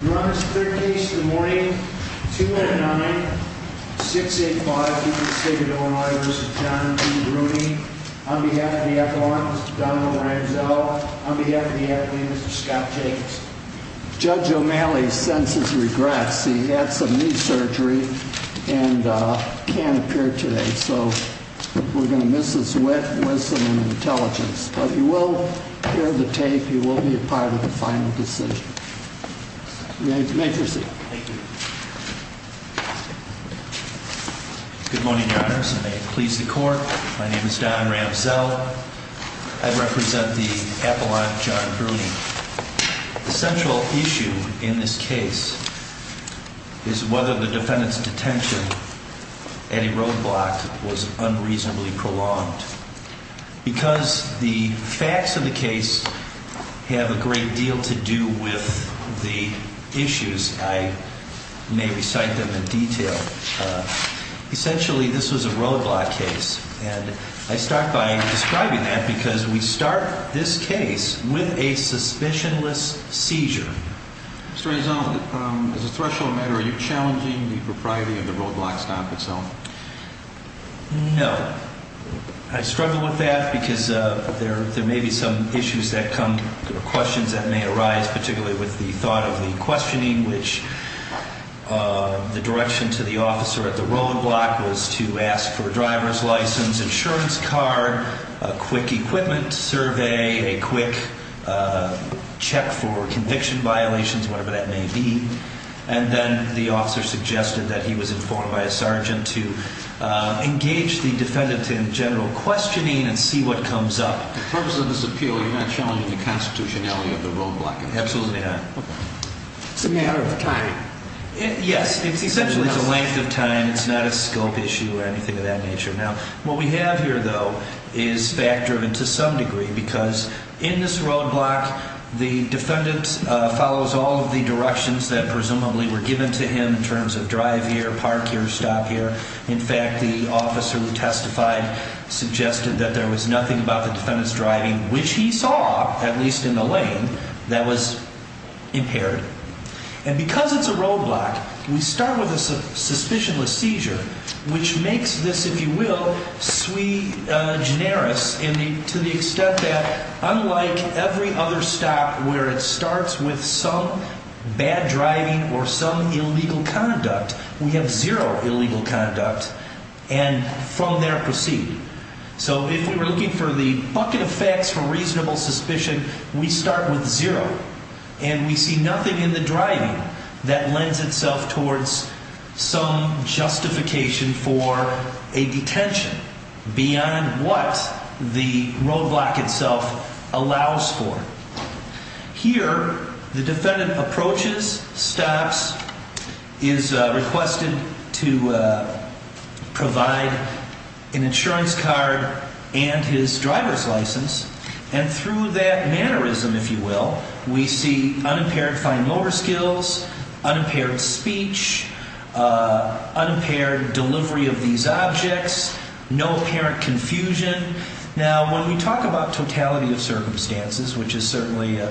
Your Honor, it's the third case of the morning, 2-9, 6-8-5. We have the State of Illinois v. John B. Bruni. On behalf of the Echelon, Mr. Donald Ramsell. On behalf of the Academy, Mr. Scott Jacobs. Judge O'Malley senses regrets. He had some knee surgery and can't appear today. So we're going to miss his wit, wisdom, and intelligence. But he will hear the tape. He will be a part of the final decision. You may proceed. Good morning, Your Honors, and may it please the Court. My name is Don Ramsell. I represent the Echelon John Bruni. The central issue in this case is whether the defendant's detention at a roadblock was unreasonably prolonged. Because the facts of the case have a great deal to do with the issues, I may recite them in detail. Essentially, this was a roadblock case. And I start by describing that because we start this case with a suspicionless seizure. Mr. Rezond, as a threshold matter, are you challenging the propriety of the roadblock stop itself? No. I struggle with that because there may be some issues that come, questions that may arise, particularly with the thought of the questioning, which the direction to the officer at the roadblock was to ask for a driver's license, insurance card, a quick equipment survey, a quick check for conviction violations, whatever that may be. And then the officer suggested that he was informed by a sergeant to engage the defendant in general questioning and see what comes up. For the purpose of this appeal, you're not challenging the constitutionality of the roadblock. Absolutely not. It's a matter of time. Yes, essentially it's a length of time. It's not a scope issue or anything of that nature. Now, what we have here, though, is fact-driven to some degree because in this roadblock, the defendant follows all of the directions that presumably were given to him in terms of drive here, park here, stop here. In fact, the officer who testified suggested that there was nothing about the defendant's driving, which he saw, at least in the lane, that was impaired. And because it's a roadblock, we start with a suspicionless seizure, which makes this, if you will, sui generis, to the extent that unlike every other stop where it starts with some bad driving or some illegal conduct, we have zero illegal conduct and from there proceed. So if we were looking for the bucket of facts for reasonable suspicion, we start with zero. And we see nothing in the driving that lends itself towards some justification for a detention beyond what the roadblock itself allows for. Here, the defendant approaches, stops, is requested to provide an insurance card and his driver's license, and through that mannerism, if you will, we see unimpaired fine lower skills, unimpaired speech, unimpaired delivery of these objects, no apparent confusion. Now, when we talk about totality of circumstances, which is certainly a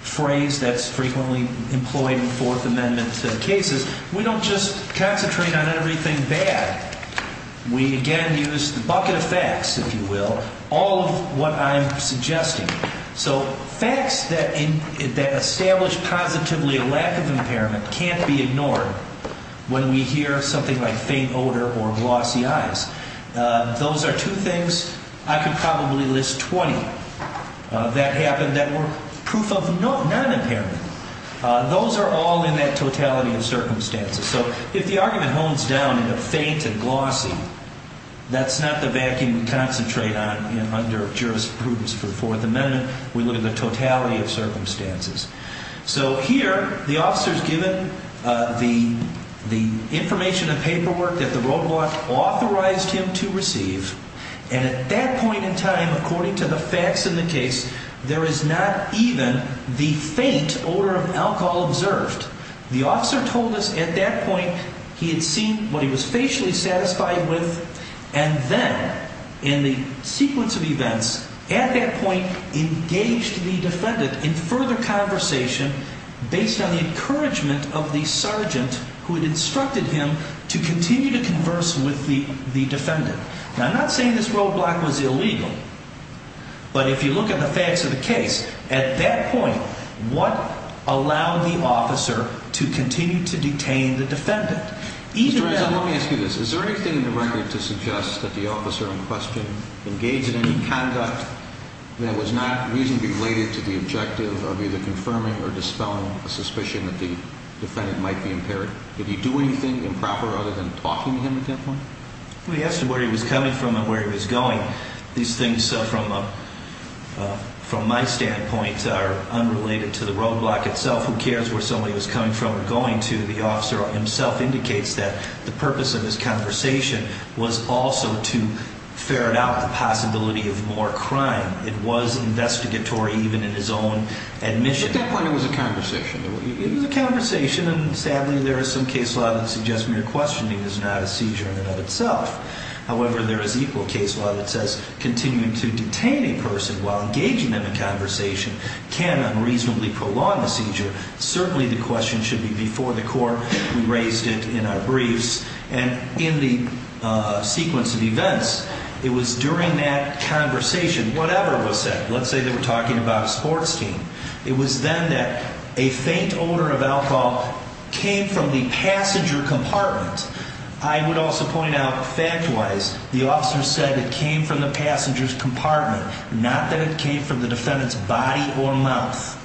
phrase that's frequently employed in Fourth Amendment cases, we don't just concentrate on everything bad. We, again, use the bucket of facts, if you will, all of what I'm suggesting. So facts that establish positively a lack of impairment can't be ignored when we hear something like faint odor or glossy eyes. Those are two things I could probably list 20 that happen that were proof of non-impairment. Those are all in that totality of circumstances. So if the argument hones down into faint and glossy, that's not the vacuum we concentrate on under jurisprudence for the Fourth Amendment. We look at the totality of circumstances. So here, the officer's given the information and paperwork that the roadblock authorized him to receive. And at that point in time, according to the facts in the case, there is not even the faint odor of alcohol observed. The officer told us at that point he had seen what he was facially satisfied with, and then in the sequence of events at that point engaged the defendant in further conversation based on the encouragement of the sergeant who had instructed him to continue to converse with the defendant. Now, I'm not saying this roadblock was illegal. But if you look at the facts of the case, at that point, what allowed the officer to continue to detain the defendant? Mr. Eisen, let me ask you this. Is there anything in the record to suggest that the officer in question engaged in any conduct that was not reasonably related to the objective of either confirming or dispelling a suspicion that the defendant might be impaired? Did he do anything improper other than talking to him at that point? We asked him where he was coming from and where he was going. These things, from my standpoint, are unrelated to the roadblock itself. Who cares where somebody was coming from or going to? The officer himself indicates that the purpose of his conversation was also to ferret out the possibility of more crime. It was investigatory even in his own admission. At that point, it was a conversation. It was a conversation, and sadly, there is some case law that suggests mere questioning is not a seizure in and of itself. However, there is equal case law that says continuing to detain a person while engaging them in conversation can unreasonably prolong the seizure. Certainly, the question should be before the court. We raised it in our briefs. And in the sequence of events, it was during that conversation, whatever was said. Let's say they were talking about a sports team. It was then that a faint odor of alcohol came from the passenger compartment. I would also point out, fact-wise, the officer said it came from the passenger's compartment, not that it came from the defendant's body or mouth.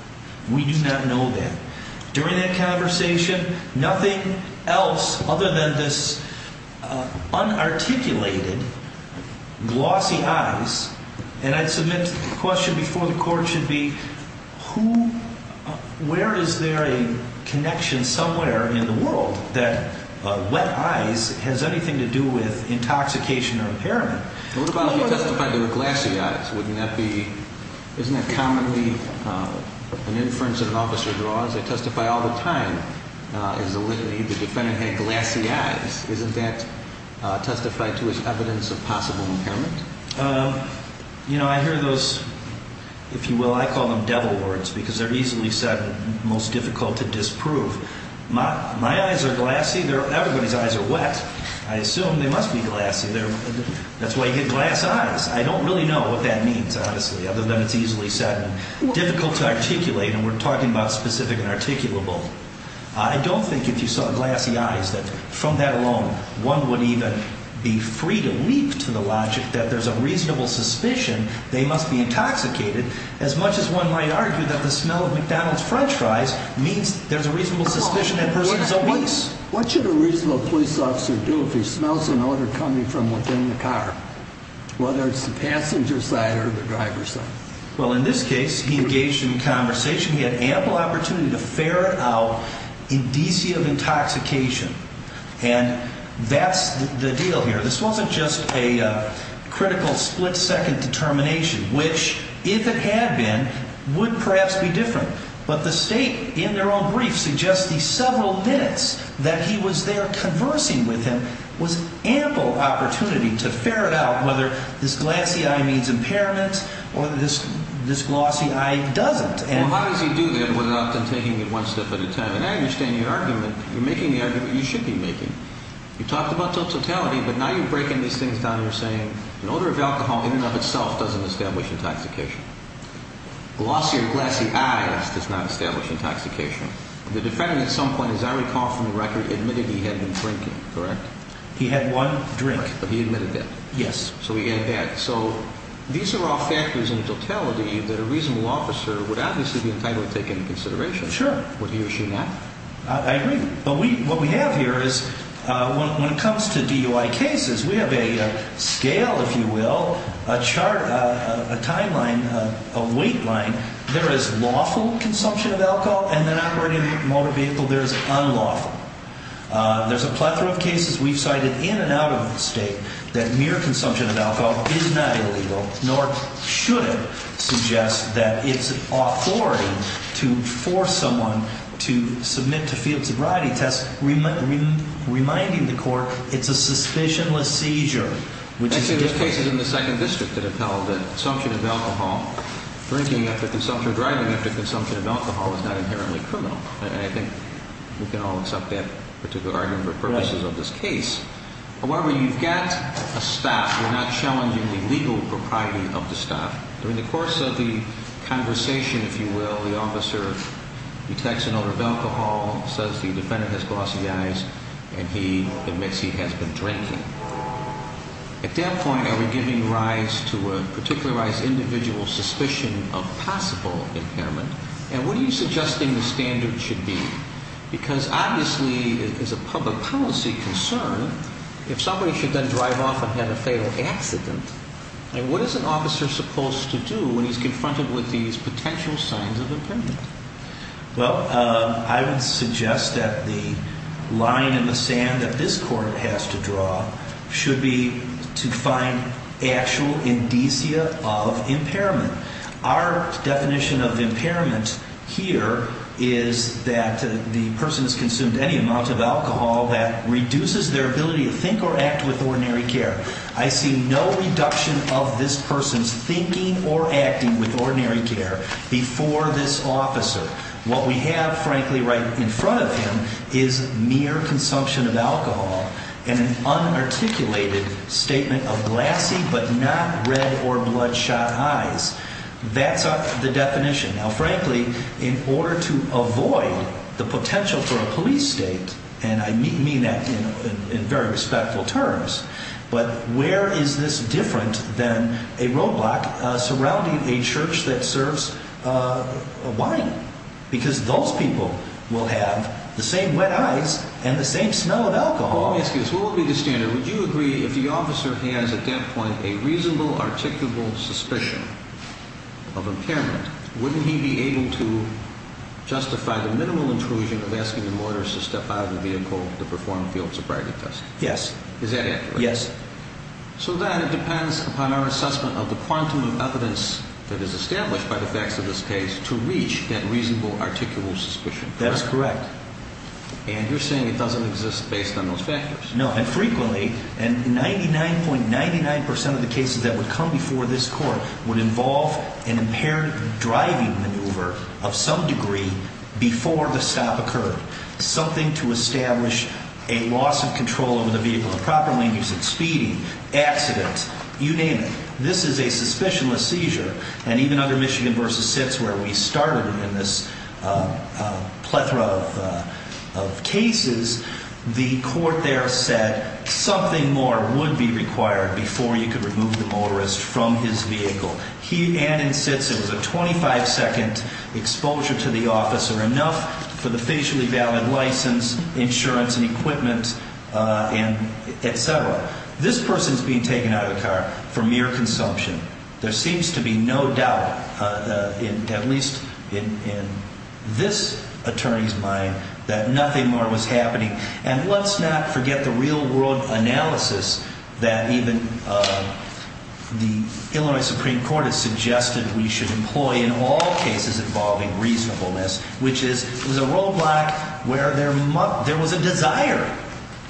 We do not know that. During that conversation, nothing else other than this unarticulated, glossy eyes. And I'd submit to the question before the court should be, where is there a connection somewhere in the world that wet eyes has anything to do with intoxication or impairment? What about if you testified they were glassy eyes? Wouldn't that be – isn't that commonly an inference that an officer draws? They testify all the time. If the defendant had glassy eyes, isn't that testified to as evidence of possible impairment? You know, I hear those – if you will, I call them devil words because they're easily said and most difficult to disprove. My eyes are glassy. Everybody's eyes are wet. I assume they must be glassy. That's why you get glass eyes. I don't really know what that means, honestly, other than it's easily said and difficult to articulate, and we're talking about specific and articulable. I don't think if you saw glassy eyes that from that alone one would even be free to leap to the logic that there's a reasonable suspicion they must be intoxicated, as much as one might argue that the smell of McDonald's french fries means there's a reasonable suspicion that person's obese. What should a reasonable police officer do if he smells an odor coming from within the car, whether it's the passenger side or the driver side? Well, in this case, he engaged in conversation. He had ample opportunity to ferret out indicia of intoxication, and that's the deal here. This wasn't just a critical split-second determination, which, if it had been, would perhaps be different, but the state in their own brief suggests the several minutes that he was there conversing with him was ample opportunity to ferret out whether this glassy eye means impairment or this glossy eye doesn't. Well, how does he do that without then taking it one step at a time? And I understand your argument. You're making the argument you should be making. You talked about totality, but now you're breaking these things down. You're saying an odor of alcohol in and of itself doesn't establish intoxication. Glossy or glassy eyes does not establish intoxication. The defendant at some point, as I recall from the record, admitted he had been drinking, correct? He had one drink. He admitted that. Yes. So we get that. So these are all factors in totality that a reasonable officer would obviously be entitled to take into consideration. Sure. Would he or she not? I agree. But what we have here is when it comes to DUI cases, we have a scale, if you will, a chart, a timeline, a weight line. There is lawful consumption of alcohol, and then operating a motor vehicle there is unlawful. There's a plethora of cases we've cited in and out of the state that mere consumption of alcohol is not illegal, nor should it suggest that it's authority to force someone to submit to field sobriety tests reminding the court it's a suspicionless seizure. Actually, there's cases in the 2nd District that have held that consumption of alcohol, drinking after consumption or driving after consumption of alcohol is not inherently criminal. And I think we can all accept that particular argument for purposes of this case. However, you've got a stop. We're not challenging the legal propriety of the stop. During the course of the conversation, if you will, the officer detects an odor of alcohol, says the defendant has glossed the eyes, and he admits he has been drinking. At that point, are we giving rise to a particularized individual suspicion of possible impairment? And what are you suggesting the standard should be? Because obviously, as a public policy concern, if somebody should then drive off and have a fatal accident, what is an officer supposed to do when he's confronted with these potential signs of impairment? Well, I would suggest that the line in the sand that this Court has to draw should be to find actual indicia of impairment. Our definition of impairment here is that the person has consumed any amount of alcohol that reduces their ability to think or act with ordinary care. I see no reduction of this person's thinking or acting with ordinary care before this officer. What we have, frankly, right in front of him is mere consumption of alcohol and an unarticulated statement of glassy but not red or bloodshot eyes. That's the definition. Now, frankly, in order to avoid the potential for a police state, and I mean that in very respectful terms, but where is this different than a roadblock surrounding a church that serves wine? Because those people will have the same wet eyes and the same smell of alcohol. Well, let me ask you this. What would be the standard? Would you agree if the officer has, at that point, a reasonable, articulable suspicion of impairment, wouldn't he be able to justify the minimal intrusion of asking the motorist to step out of the vehicle to perform a field sobriety test? Yes. Is that accurate? Yes. So then it depends upon our assessment of the quantum of evidence that is established by the facts of this case to reach that reasonable, articulable suspicion, correct? That is correct. And you're saying it doesn't exist based on those factors. No, and frequently, 99.99% of the cases that would come before this court would involve an impaired driving maneuver of some degree before the stop occurred, something to establish a loss of control over the vehicle, improper language, speeding, accident, you name it. This is a suspicionless seizure, and even under Michigan v. Sitz where we started in this plethora of cases, the court there said something more would be required before you could remove the motorist from his vehicle. He and in Sitz, it was a 25-second exposure to the officer, enough for the facially valid license, insurance and equipment, et cetera. This person is being taken out of the car for mere consumption. There seems to be no doubt, at least in this attorney's mind, that nothing more was happening. And let's not forget the real-world analysis that even the Illinois Supreme Court has suggested we should employ in all cases involving reasonableness, which is it was a roadblock where there was a desire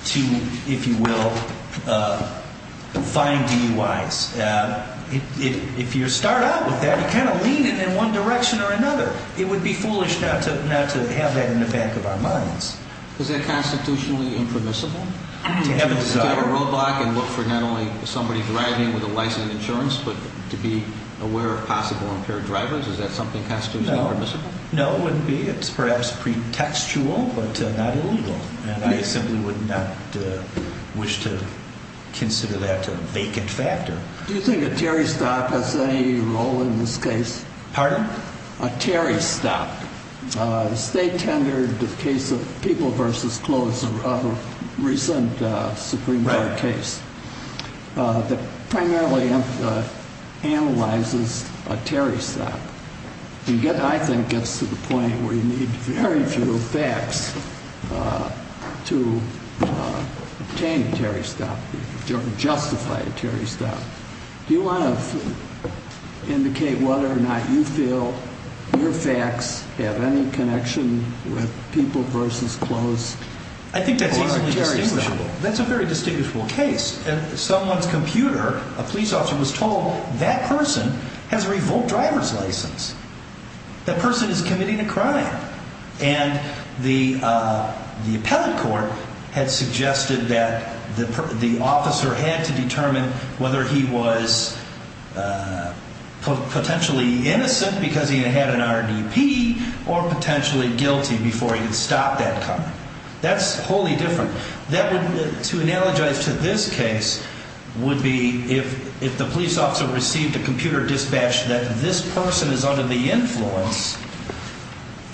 to, if you will, find DUIs. If you start out with that, you kind of lean it in one direction or another. It would be foolish not to have that in the back of our minds. Is that constitutionally impermissible to have a roadblock and look for not only somebody driving with a license and insurance, but to be aware of possible impaired drivers? Is that something constitutionally permissible? No, it wouldn't be. It's perhaps pretextual, but not illegal. And I simply would not wish to consider that a vacant factor. Do you think a Terry stop has any role in this case? Pardon? A Terry stop. The state-tendered case of People v. Clothes, a recent Supreme Court case that primarily analyzes a Terry stop, I think gets to the point where you need very few facts to obtain a Terry stop, justify a Terry stop. Do you want to indicate whether or not you feel your facts have any connection with People v. Clothes? I think that's easily distinguishable. That's a very distinguishable case. Someone's computer, a police officer was told, that person has a revoked driver's license. That person is committing a crime. And the appellate court had suggested that the officer had to determine whether he was potentially innocent because he had an RDP or potentially guilty before he could stop that car. That's wholly different. To analogize to this case would be if the police officer received a computer dispatch that this person is under the influence,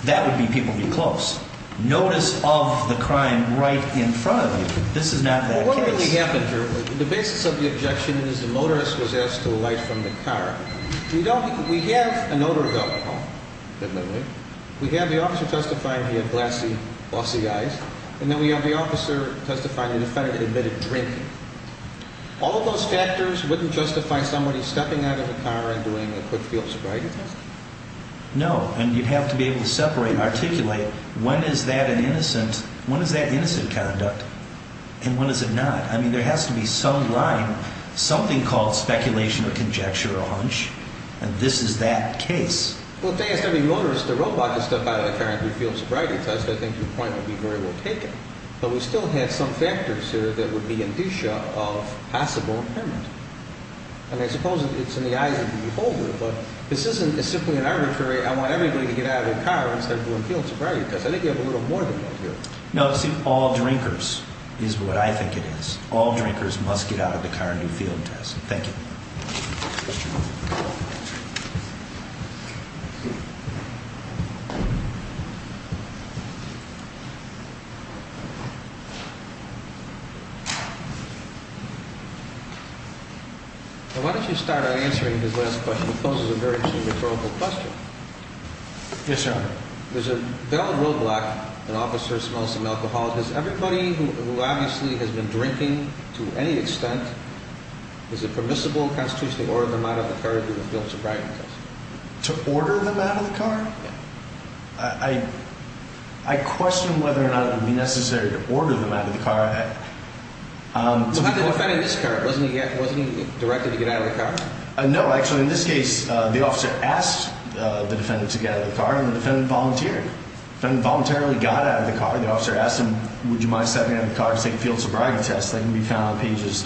that would be People v. Clothes. Notice of the crime right in front of you. This is not that case. Well, what really happened here, the basis of the objection is the motorist was asked to alight from the car. We have an odor valve at home. Definitely. We have the officer testifying he had glassy, glossy eyes. And then we have the officer testifying the defendant admitted drinking. All of those factors wouldn't justify somebody stepping out of the car and doing a quick field sobriety test? No. And you'd have to be able to separate and articulate when is that an innocent conduct and when is it not. I mean, there has to be some line, something called speculation or conjecture or hunch. And this is that case. Well, if they asked every motorist or robot to step out of the car and do a field sobriety test, I think your point would be very well taken. But we still have some factors here that would be indicia of possible impairment. And I suppose it's in the eyes of the beholder. But this isn't simply an arbitrary, I want everybody to get out of their car instead of doing a field sobriety test. I think you have a little more than that here. No, see, all drinkers is what I think it is. All drinkers must get out of the car and do a field test. Thank you. Why don't you start by answering his last question. It poses a very true rhetorical question. Yes, Your Honor. There's a veiled roadblock. An officer smells some alcohol. Has everybody who obviously has been drinking to any extent, is it permissible constitutionally to order them out of the car to do a field sobriety test? To order them out of the car? Yeah. I question whether or not it would be necessary to order them out of the car. How did the defendant get out of the car? Wasn't he directed to get out of the car? No, actually. In this case, the officer asked the defendant to get out of the car, and the defendant volunteered. The defendant voluntarily got out of the car. The officer asked him, would you mind stepping out of the car to take a field sobriety test? That can be found on pages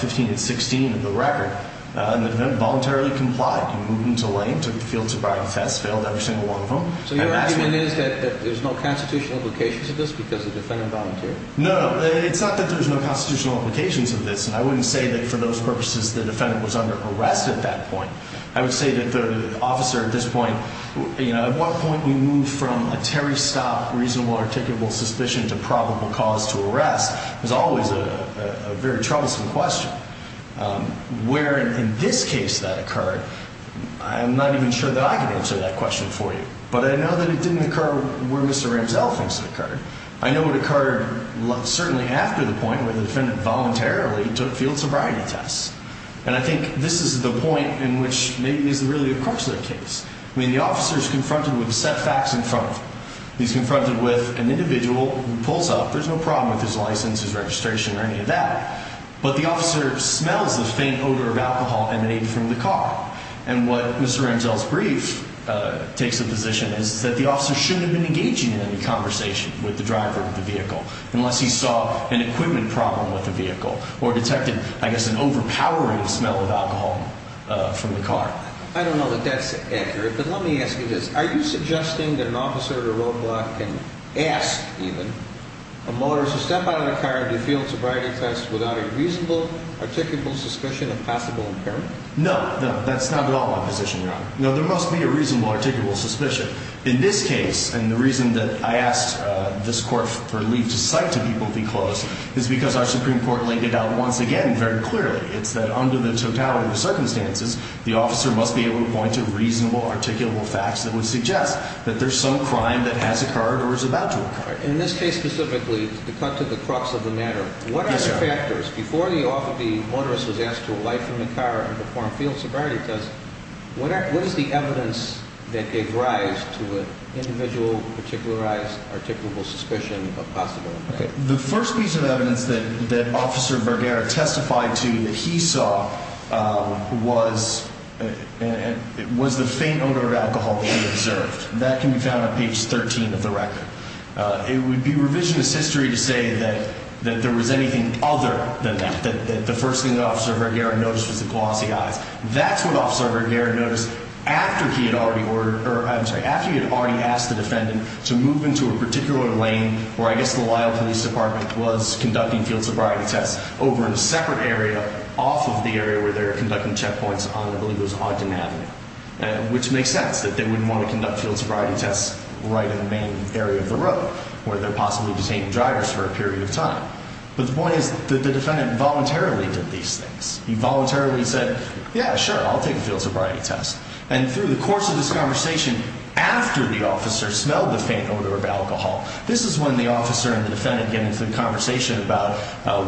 15 and 16 of the record. And the defendant voluntarily complied. He moved into a lane, took the field sobriety test, failed every single one of them. So your argument is that there's no constitutional implications of this because the defendant volunteered? No, no. It's not that there's no constitutional implications of this. And I wouldn't say that for those purposes the defendant was under arrest at that point. I would say that the officer at this point, you know, at what point we move from a Terry Stopp reasonable articulable suspicion to probable cause to arrest, is always a very troublesome question. Where in this case that occurred, I'm not even sure that I can answer that question for you. But I know that it didn't occur where Mr. Ramsell thinks it occurred. I know it occurred certainly after the point where the defendant voluntarily took field sobriety tests. And I think this is the point in which maybe this is really the crux of the case. I mean, the officer is confronted with set facts in front of him. He's confronted with an individual who pulls up. There's no problem with his license, his registration, or any of that. But the officer smells the faint odor of alcohol emanating from the car. And what Mr. Ramsell's brief takes into position is that the officer shouldn't have been engaging in any conversation with the driver of the vehicle unless he saw an equipment problem with the vehicle or detected, I guess, an overpowering smell of alcohol from the car. I don't know that that's accurate, but let me ask you this. Are you suggesting that an officer at a roadblock can ask even a motorist to step out of the car and do field sobriety tests without a reasonable articulable suspicion of possible impairment? No, no, that's not at all my position, Your Honor. No, there must be a reasonable articulable suspicion. In this case, and the reason that I asked this court for leave to cite to people to be closed is because our Supreme Court laid it out once again very clearly. It's that under the totality of circumstances, the officer must be able to point to reasonable articulable facts that would suggest that there's some crime that has occurred or is about to occur. In this case specifically, to cut to the crux of the matter, what are the factors? Before the officer, the motorist, was asked to alight from the car and perform field sobriety tests, what is the evidence that gave rise to an individual with particularized articulable suspicion of possible impairment? The first piece of evidence that Officer Vergara testified to that he saw was the faint odor of alcohol that he observed. That can be found on page 13 of the record. It would be revisionist history to say that there was anything other than that, that the first thing that Officer Vergara noticed was the glossy eyes. That's what Officer Vergara noticed after he had already asked the defendant to move into a particular lane where I guess the Lyle Police Department was conducting field sobriety tests, over in a separate area off of the area where they were conducting checkpoints on I believe it was Ogden Avenue, which makes sense that they wouldn't want to conduct field sobriety tests right in the main area of the road where they're possibly detaining drivers for a period of time. But the point is that the defendant voluntarily did these things. He voluntarily said, yeah, sure, I'll take a field sobriety test. And through the course of this conversation, after the officer smelled the faint odor of alcohol, this is when the officer and the defendant get into the conversation about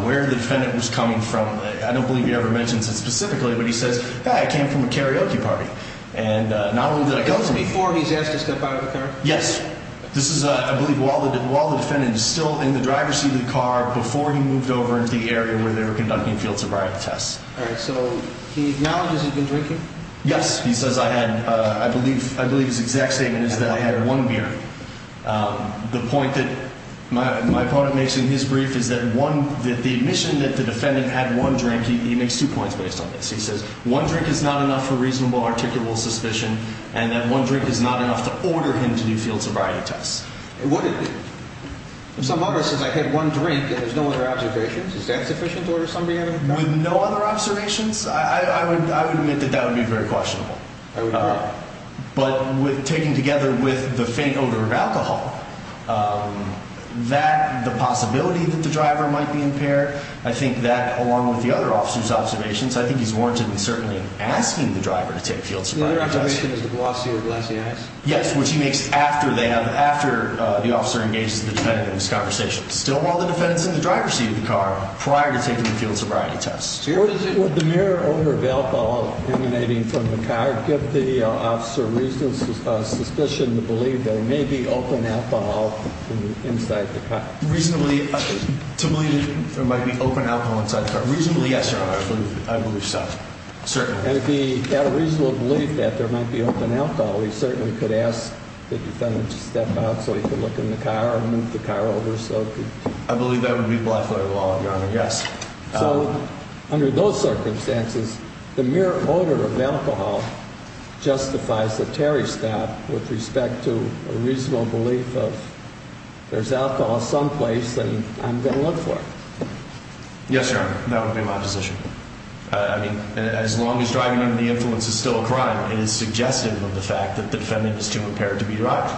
where the defendant was coming from. I don't believe he ever mentions it specifically, but he says, yeah, I came from a karaoke party. And not only did I go to me before he's asked to step out of the car. Yes. This is, I believe, while the defendant is still in the driver's seat of the car before he moved over into the area where they were conducting field sobriety tests. So he acknowledges he's been drinking? Yes. He says I had, I believe his exact statement is that I had one beer. The point that my opponent makes in his brief is that the admission that the defendant had one drink, he makes two points based on this. He says one drink is not enough for reasonable articulable suspicion and that one drink is not enough to order him to do field sobriety tests. Would it be? If some officer says I had one drink and there's no other observations, is that sufficient to order somebody out of the car? With no other observations? I would admit that that would be very questionable. I would agree. But taken together with the faint odor of alcohol, that, the possibility that the driver might be impaired, I think that, along with the other officer's observations, I think he's warranted and certainly asking the driver to take field sobriety tests. The other observation is the glossy or glassy eyes? Yes, which he makes after they have, after the officer engages the defendant in this conversation. Still while the defendant's in the driver's seat of the car prior to taking the field sobriety tests. Would the mere odor of alcohol emanating from the car give the officer reasonable suspicion to believe there may be open alcohol inside the car? Reasonably, to believe there might be open alcohol inside the car. Reasonably, yes, Your Honor. I believe so. Certainly. And if he had a reasonable belief that there might be open alcohol, he certainly could ask the defendant to step out so he could look in the car and move the car over so he could. I believe that would be the law, Your Honor. Yes. So under those circumstances, the mere odor of alcohol justifies the Terry stop with respect to a reasonable belief of there's alcohol someplace and I'm going to look for it. Yes, Your Honor. That would be my position. I mean, as long as driving under the influence is still a crime, it is suggestive of the fact that the defendant is too impaired to be driven.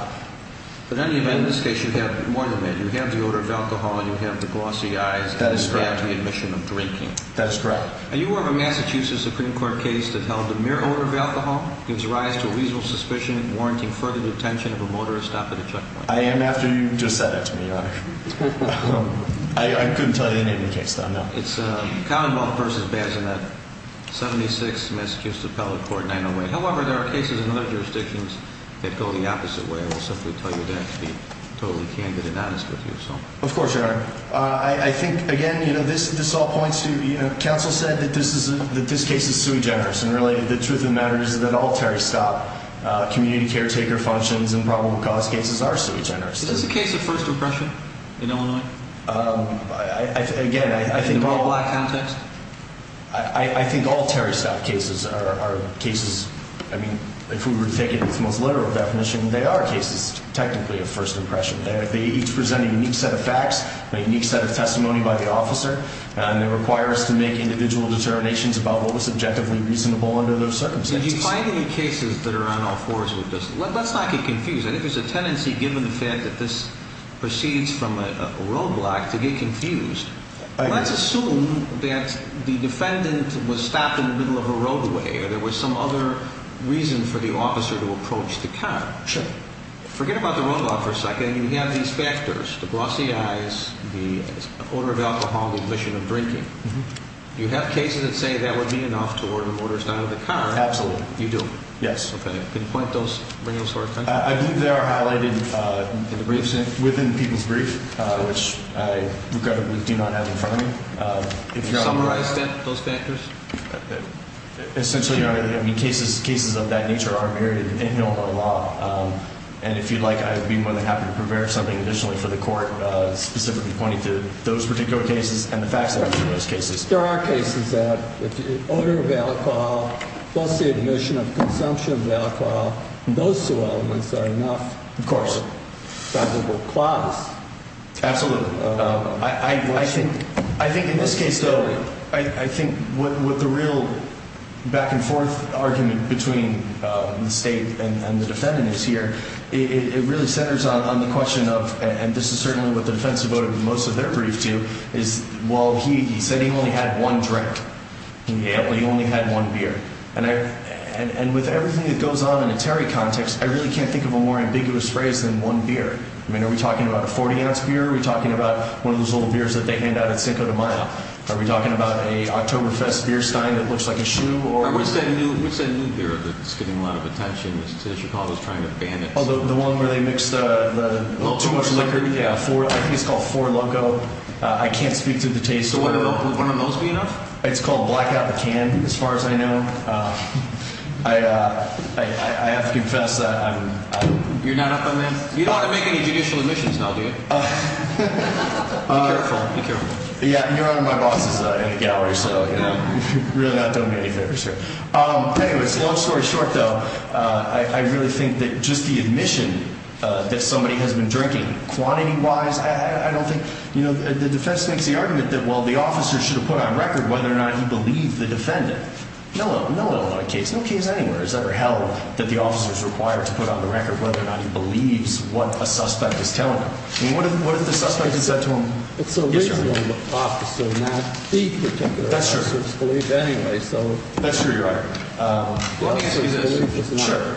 In any event, in this case, you have more than that. You have the odor of alcohol and you have the glossy eyes. That is correct. And you have the admission of drinking. That is correct. Are you aware of a Massachusetts Supreme Court case that held the mere odor of alcohol gives rise to a reasonable suspicion warranting further detention of a motorist after the checkpoint? I am after you just said that to me, Your Honor. I couldn't tell you the name of the case, though, no. It's Commonwealth v. Bazinet, 76, Massachusetts Appellate Court, 908. However, there are cases in other jurisdictions that go the opposite way. I will simply tell you that to be totally candid and honest with you. Of course, Your Honor. I think, again, you know, this all points to, you know, counsel said that this case is sui generis. And, really, the truth of the matter is that all Terry stop community caretaker functions and probable cause cases are sui generis. Is this a case of first repression in Illinois? Again, I think all— In a more black context? I think all Terry stop cases are cases, I mean, if we were to take it with the most literal definition, they are cases technically of first repression. They each present a unique set of facts, a unique set of testimony by the officer, and they require us to make individual determinations about what was subjectively reasonable under those circumstances. Did you find any cases that are on all fours with this? Let's not get confused. I think there's a tendency, given the fact that this proceeds from a roadblock, to get confused. Let's assume that the defendant was stopped in the middle of a roadway, or there was some other reason for the officer to approach the car. Sure. Forget about the roadblock for a second. You have these factors, the glossy eyes, the odor of alcohol, the omission of drinking. Do you have cases that say that would be enough to order motors out of the car? Absolutely. You do? Yes. Okay. Can you point those, bring those to our attention? I believe they are highlighted within the people's brief, which I regrettably do not have in front of me. Can you summarize those factors? Essentially, I mean, cases of that nature are buried in Illinois law. And if you'd like, I'd be more than happy to prepare something additionally for the court specifically pointing to those particular cases and the facts of those cases. There are cases that if the odor of alcohol, plus the omission of consumption of alcohol, those two elements are enough. Of course. For a probable cause. Absolutely. I think in this case, though, I think what the real back and forth argument between the state and the defendant is here, it really centers on the question of, and this is certainly what the defense devoted most of their brief to, is, well, he said he only had one drink. He only had one beer. And with everything that goes on in a Terry context, I really can't think of a more ambiguous phrase than one beer. I mean, are we talking about a 40-ounce beer? Are we talking about one of those little beers that they hand out at Cinco de Mayo? Are we talking about a Oktoberfest beer stein that looks like a shoe? What's that new beer that's getting a lot of attention? The one where they mix too much liquor? Yeah. I think it's called Four Loco. I can't speak to the taste. Wouldn't one of those be enough? It's called Blackout the Can, as far as I know. I have to confess that I'm... You're not up on that? You don't want to make any judicial omissions, now, do you? Be careful. Yeah. You're one of my bosses in the gallery, so you're really not doing me any favors here. Anyway, long story short, though, I really think that just the admission that somebody has been drinking... Quantity-wise, I don't think... The defense makes the argument that, well, the officer should have put on record whether or not he believed the defendant. No one will on a case. No case anywhere has ever held that the officer is required to put on the record whether or not he believes what a suspect is telling him. I mean, what if the suspect had said to him... It's a reasonable officer, not the particular officer's belief, anyway, so... That's true, Your Honor. Well, let me ask you this. Sure.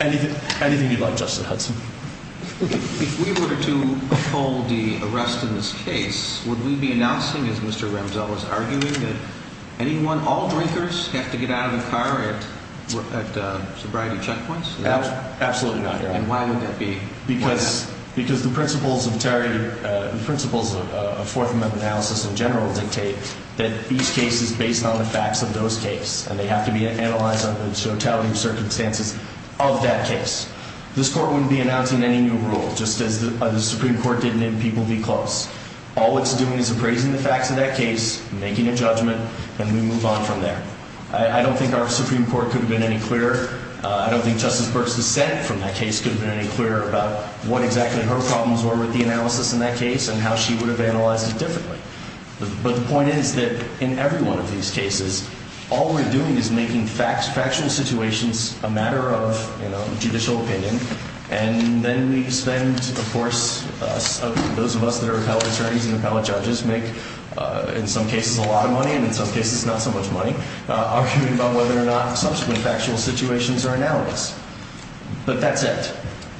Anything you'd like, Justice Hudson. If we were to uphold the arrest in this case, would we be announcing, as Mr. Ramsell was arguing, that anyone, all drinkers have to get out of the car at sobriety checkpoints? Absolutely not, Your Honor. And why would that be? Because the principles of fourth amendment analysis in general dictate that each case is based on the facts of those cases. And they have to be analyzed under the totality of circumstances of that case. This Court wouldn't be announcing any new rule, just as the Supreme Court didn't in People v. Close. All it's doing is appraising the facts of that case, making a judgment, and we move on from there. I don't think our Supreme Court could have been any clearer. I don't think Justice Burke's dissent from that case could have been any clearer about what exactly her problems were with the analysis in that case and how she would have analyzed it differently. But the point is that in every one of these cases, all we're doing is making factual situations a matter of, you know, judicial opinion. And then we spend, of course, those of us that are appellate attorneys and appellate judges make in some cases a lot of money and in some cases not so much money, arguing about whether or not subsequent factual situations are analysis. But that's it.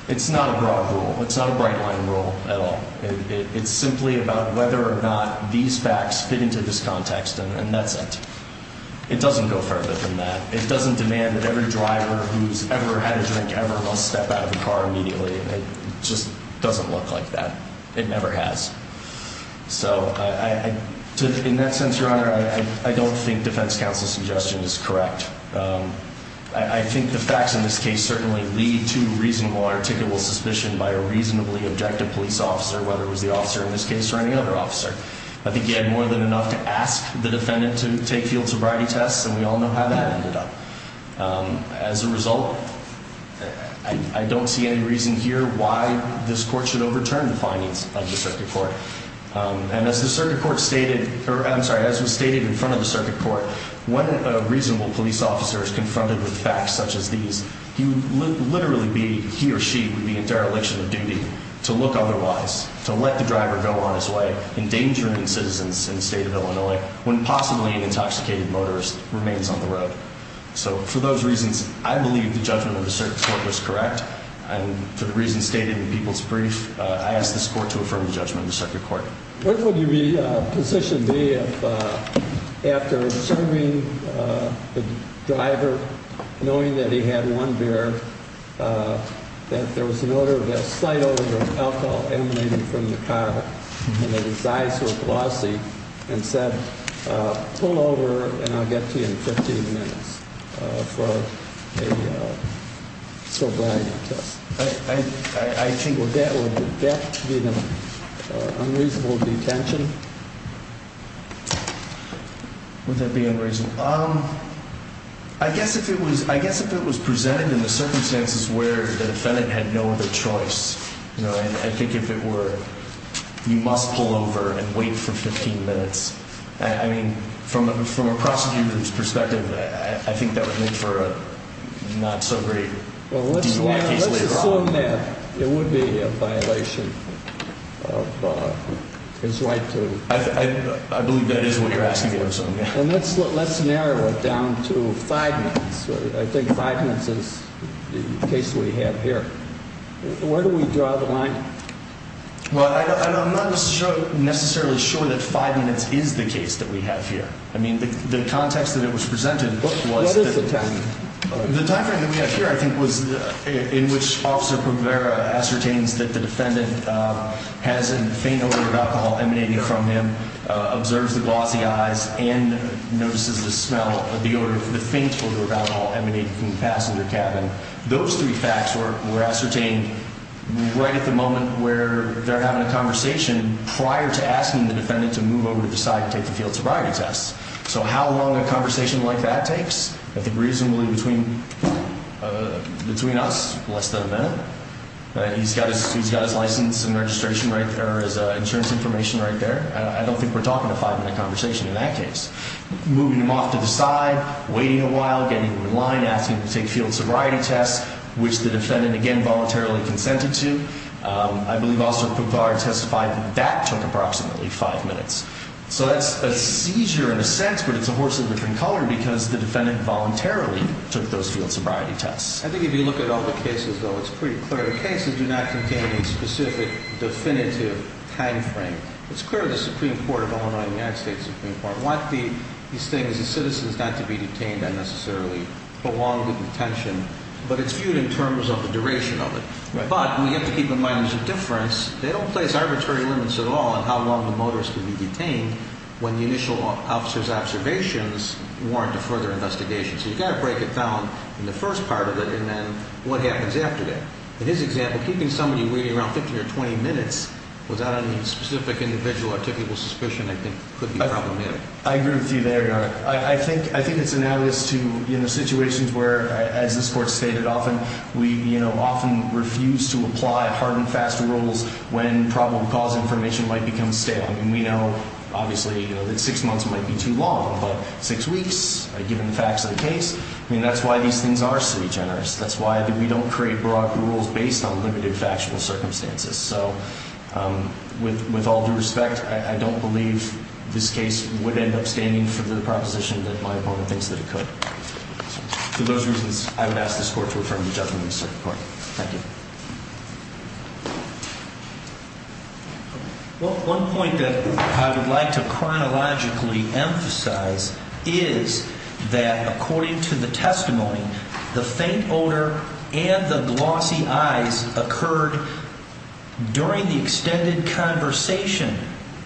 It's not a broad rule. It's not a bright-line rule at all. It's simply about whether or not these facts fit into this context, and that's it. It doesn't go further than that. It doesn't demand that every driver who's ever had a drink ever must step out of the car immediately. It just doesn't look like that. It never has. So in that sense, Your Honor, I don't think defense counsel's suggestion is correct. I think the facts in this case certainly lead to reasonable, articulable suspicion by a reasonably objective police officer, whether it was the officer in this case or any other officer. I think he had more than enough to ask the defendant to take field sobriety tests, and we all know how that ended up. As a result, I don't see any reason here why this court should overturn the findings of the circuit court. And as the circuit court stated, or I'm sorry, as was stated in front of the circuit court, when a reasonable police officer is confronted with facts such as these, he would literally be, he or she, would be in dereliction of duty to look otherwise, to let the driver go on his way, endangering citizens in the state of Illinois, when possibly an intoxicated motorist remains on the road. So for those reasons, I believe the judgment of the circuit court was correct. And for the reasons stated in the people's brief, I ask this court to affirm the judgment of the circuit court. What would your position be if, after serving the driver, knowing that he had one beer, that there was an odor of alcohol emanating from the car, and that his eyes were glossy, and said, pull over and I'll get to you in 15 minutes for a sobriety test? I think that would be an unreasonable detention. Would that be unreasonable? I guess if it was presented in the circumstances where the defendant had no other choice. I think if it were, you must pull over and wait for 15 minutes. I mean, from a prosecutor's perspective, I think that would make for a not so great DUI case. Well, let's assume that it would be a violation of his right to... I believe that is what you're asking for. Let's narrow it down to five minutes. I think five minutes is the case we have here. Where do we draw the line? Well, I'm not necessarily sure that five minutes is the case that we have here. I mean, the context that it was presented was... What is the time? The time frame that we have here, I think, was in which Officer Provera ascertains that the defendant has a faint odor of alcohol emanating from him, observes the glossy eyes, and notices the smell of the faint odor of alcohol emanating from the passenger cabin. Those three facts were ascertained right at the moment where they're having a conversation prior to asking the defendant to move over to the side and take the field sobriety test. So how long a conversation like that takes? I think reasonably between us, less than a minute. He's got his license and registration right there, his insurance information right there. I don't think we're talking a five-minute conversation in that case. Moving him off to the side, waiting a while, getting in line, asking him to take field sobriety tests, which the defendant, again, voluntarily consented to. I believe Officer Provera testified that that took approximately five minutes. So that's a seizure in a sense, but it's a horse of a different color because the defendant voluntarily took those field sobriety tests. I think if you look at all the cases, though, it's pretty clear. The cases do not contain a specific definitive time frame. It's clear the Supreme Court of Illinois and the United States Supreme Court want these things, the citizens, not to be detained and necessarily belong to detention. But it's viewed in terms of the duration of it. But we have to keep in mind there's a difference. They don't place arbitrary limits at all on how long the motorist can be detained when the initial officer's observations warrant a further investigation. So you've got to break it down in the first part of it and then what happens after that. In his example, keeping somebody waiting around 15 or 20 minutes without any specific individual or typical suspicion I think could be problematic. I agree with you there, Your Honor. I think it's analogous to situations where, as this Court stated often, we often refuse to apply hard and fast rules when probable cause information might become stale. I mean, we know, obviously, that six months might be too long. But six weeks, given the facts of the case, I mean, that's why these things are sui generis. That's why we don't create broad rules based on limited factual circumstances. So with all due respect, I don't believe this case would end up standing for the proposition that my opponent thinks that it could. For those reasons, I would ask this Court to affirm the judgment in this court. Thank you. Well, one point that I would like to chronologically emphasize is that according to the testimony, the faint odor and the glossy eyes occurred during the extended conversation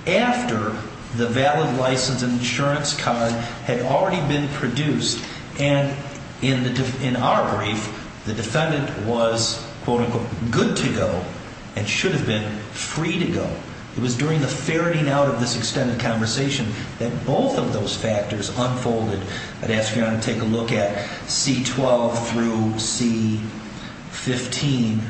after the valid license and insurance card had already been produced. And in our brief, the defendant was, quote, unquote, good to go and should have been free to go. It was during the ferreting out of this extended conversation that both of those factors unfolded. I'd ask Your Honor to take a look at C-12 through C-15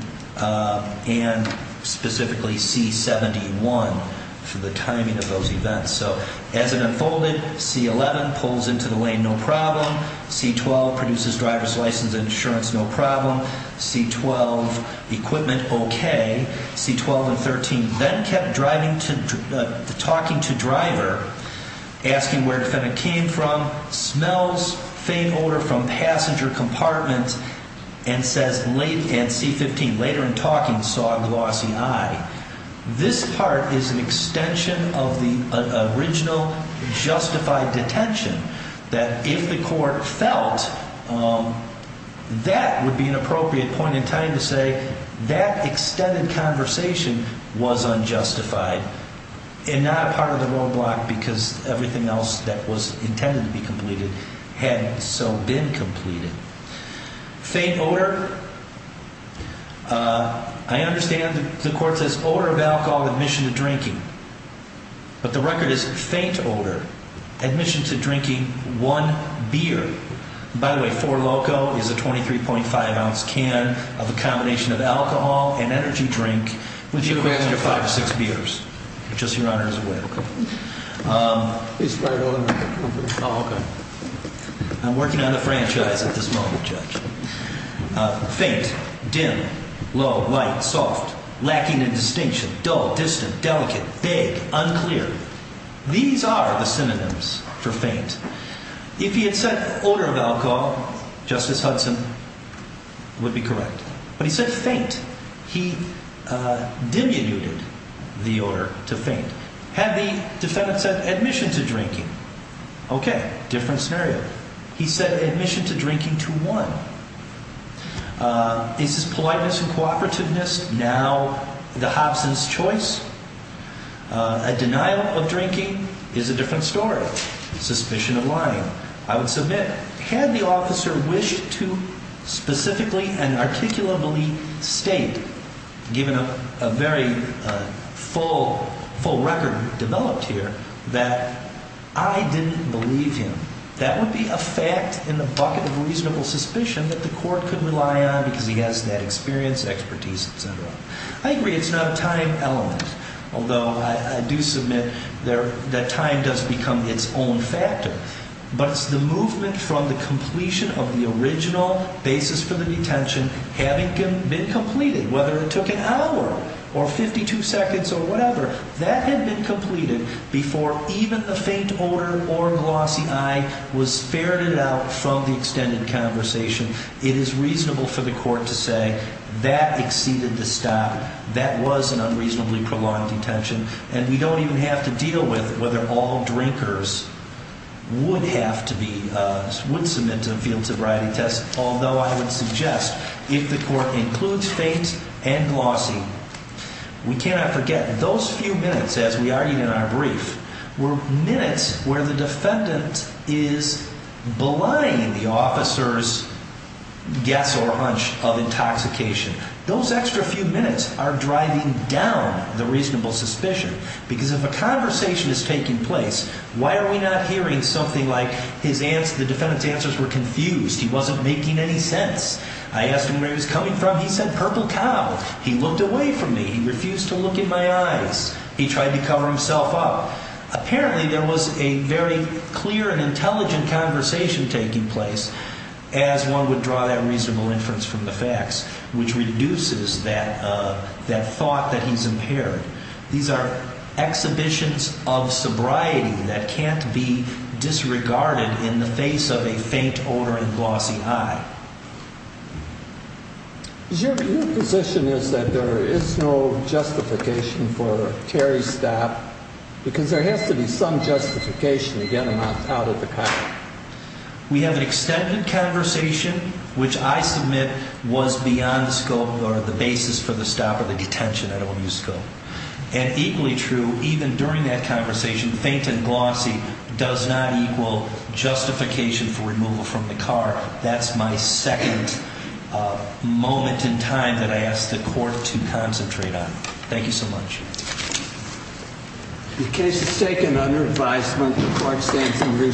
and specifically C-71 for the timing of those events. So as it unfolded, C-11 pulls into the lane, no problem. C-12 produces driver's license and insurance, no problem. C-12, equipment, okay. C-12 and 13 then kept talking to driver, asking where the defendant came from, smells faint odor from passenger compartment, and says, and C-15, later in talking, saw a glossy eye. This part is an extension of the original justified detention. That if the court felt that would be an appropriate point in time to say that extended conversation was unjustified and not a part of the roadblock because everything else that was intended to be completed had so been completed. Faint odor, I understand the court says odor of alcohol admission to drinking, but the record is faint odor, admission to drinking one beer. By the way, four loco is a 23.5 ounce can of a combination of alcohol and energy drink, which equates to five or six beers. Just Your Honor's way. He's right over there. Oh, okay. I'm working on a franchise at this moment, Judge. Faint, dim, low, light, soft, lacking in distinction, dull, distant, delicate, vague, unclear. These are the synonyms for faint. If he had said odor of alcohol, Justice Hudson would be correct, but he said faint. He diminuted the odor to faint. Had the defendant said admission to drinking? Okay, different scenario. He said admission to drinking to one. Is his politeness and cooperativeness now the Hobson's choice? A denial of drinking is a different story. Suspicion of lying, I would submit. Had the officer wished to specifically and articulably state, given a very full record developed here, that I didn't believe him, that would be a fact in the bucket of reasonable suspicion that the court could rely on because he has that experience, expertise, et cetera. I agree it's not a time element, although I do submit that time does become its own factor. But it's the movement from the completion of the original basis for the detention having been completed, whether it took an hour or 52 seconds or whatever, that had been completed before even the faint odor or glossy eye was ferreted out from the extended conversation. It is reasonable for the court to say that exceeded the stop. That was an unreasonably prolonged detention. And we don't even have to deal with whether all drinkers would have to be, would submit to a field sobriety test. Although I would suggest if the court includes faint and glossy, we cannot forget those few minutes, as we argued in our brief, were minutes where the defendant is belying the officer's guess or hunch of intoxication. Those extra few minutes are driving down the reasonable suspicion because if a conversation is taking place, why are we not hearing something like the defendant's answers were confused, he wasn't making any sense. I asked him where he was coming from, he said purple cow. He looked away from me, he refused to look in my eyes. He tried to cover himself up. Apparently there was a very clear and intelligent conversation taking place as one would draw that reasonable inference from the facts, which reduces that thought that he's impaired. These are exhibitions of sobriety that can't be disregarded in the face of a faint odor and glossy eye. Your position is that there is no justification for Terry's stop because there has to be some justification to get him out of the car. We have an extended conversation, which I submit was beyond the scope or the basis for the stop or the detention. I don't want to use scope. And equally true, even during that conversation, faint and glossy does not equal justification for removal from the car. That's my second moment in time that I asked the court to concentrate on. Thank you so much. The case is taken under advisement. The court stands in review.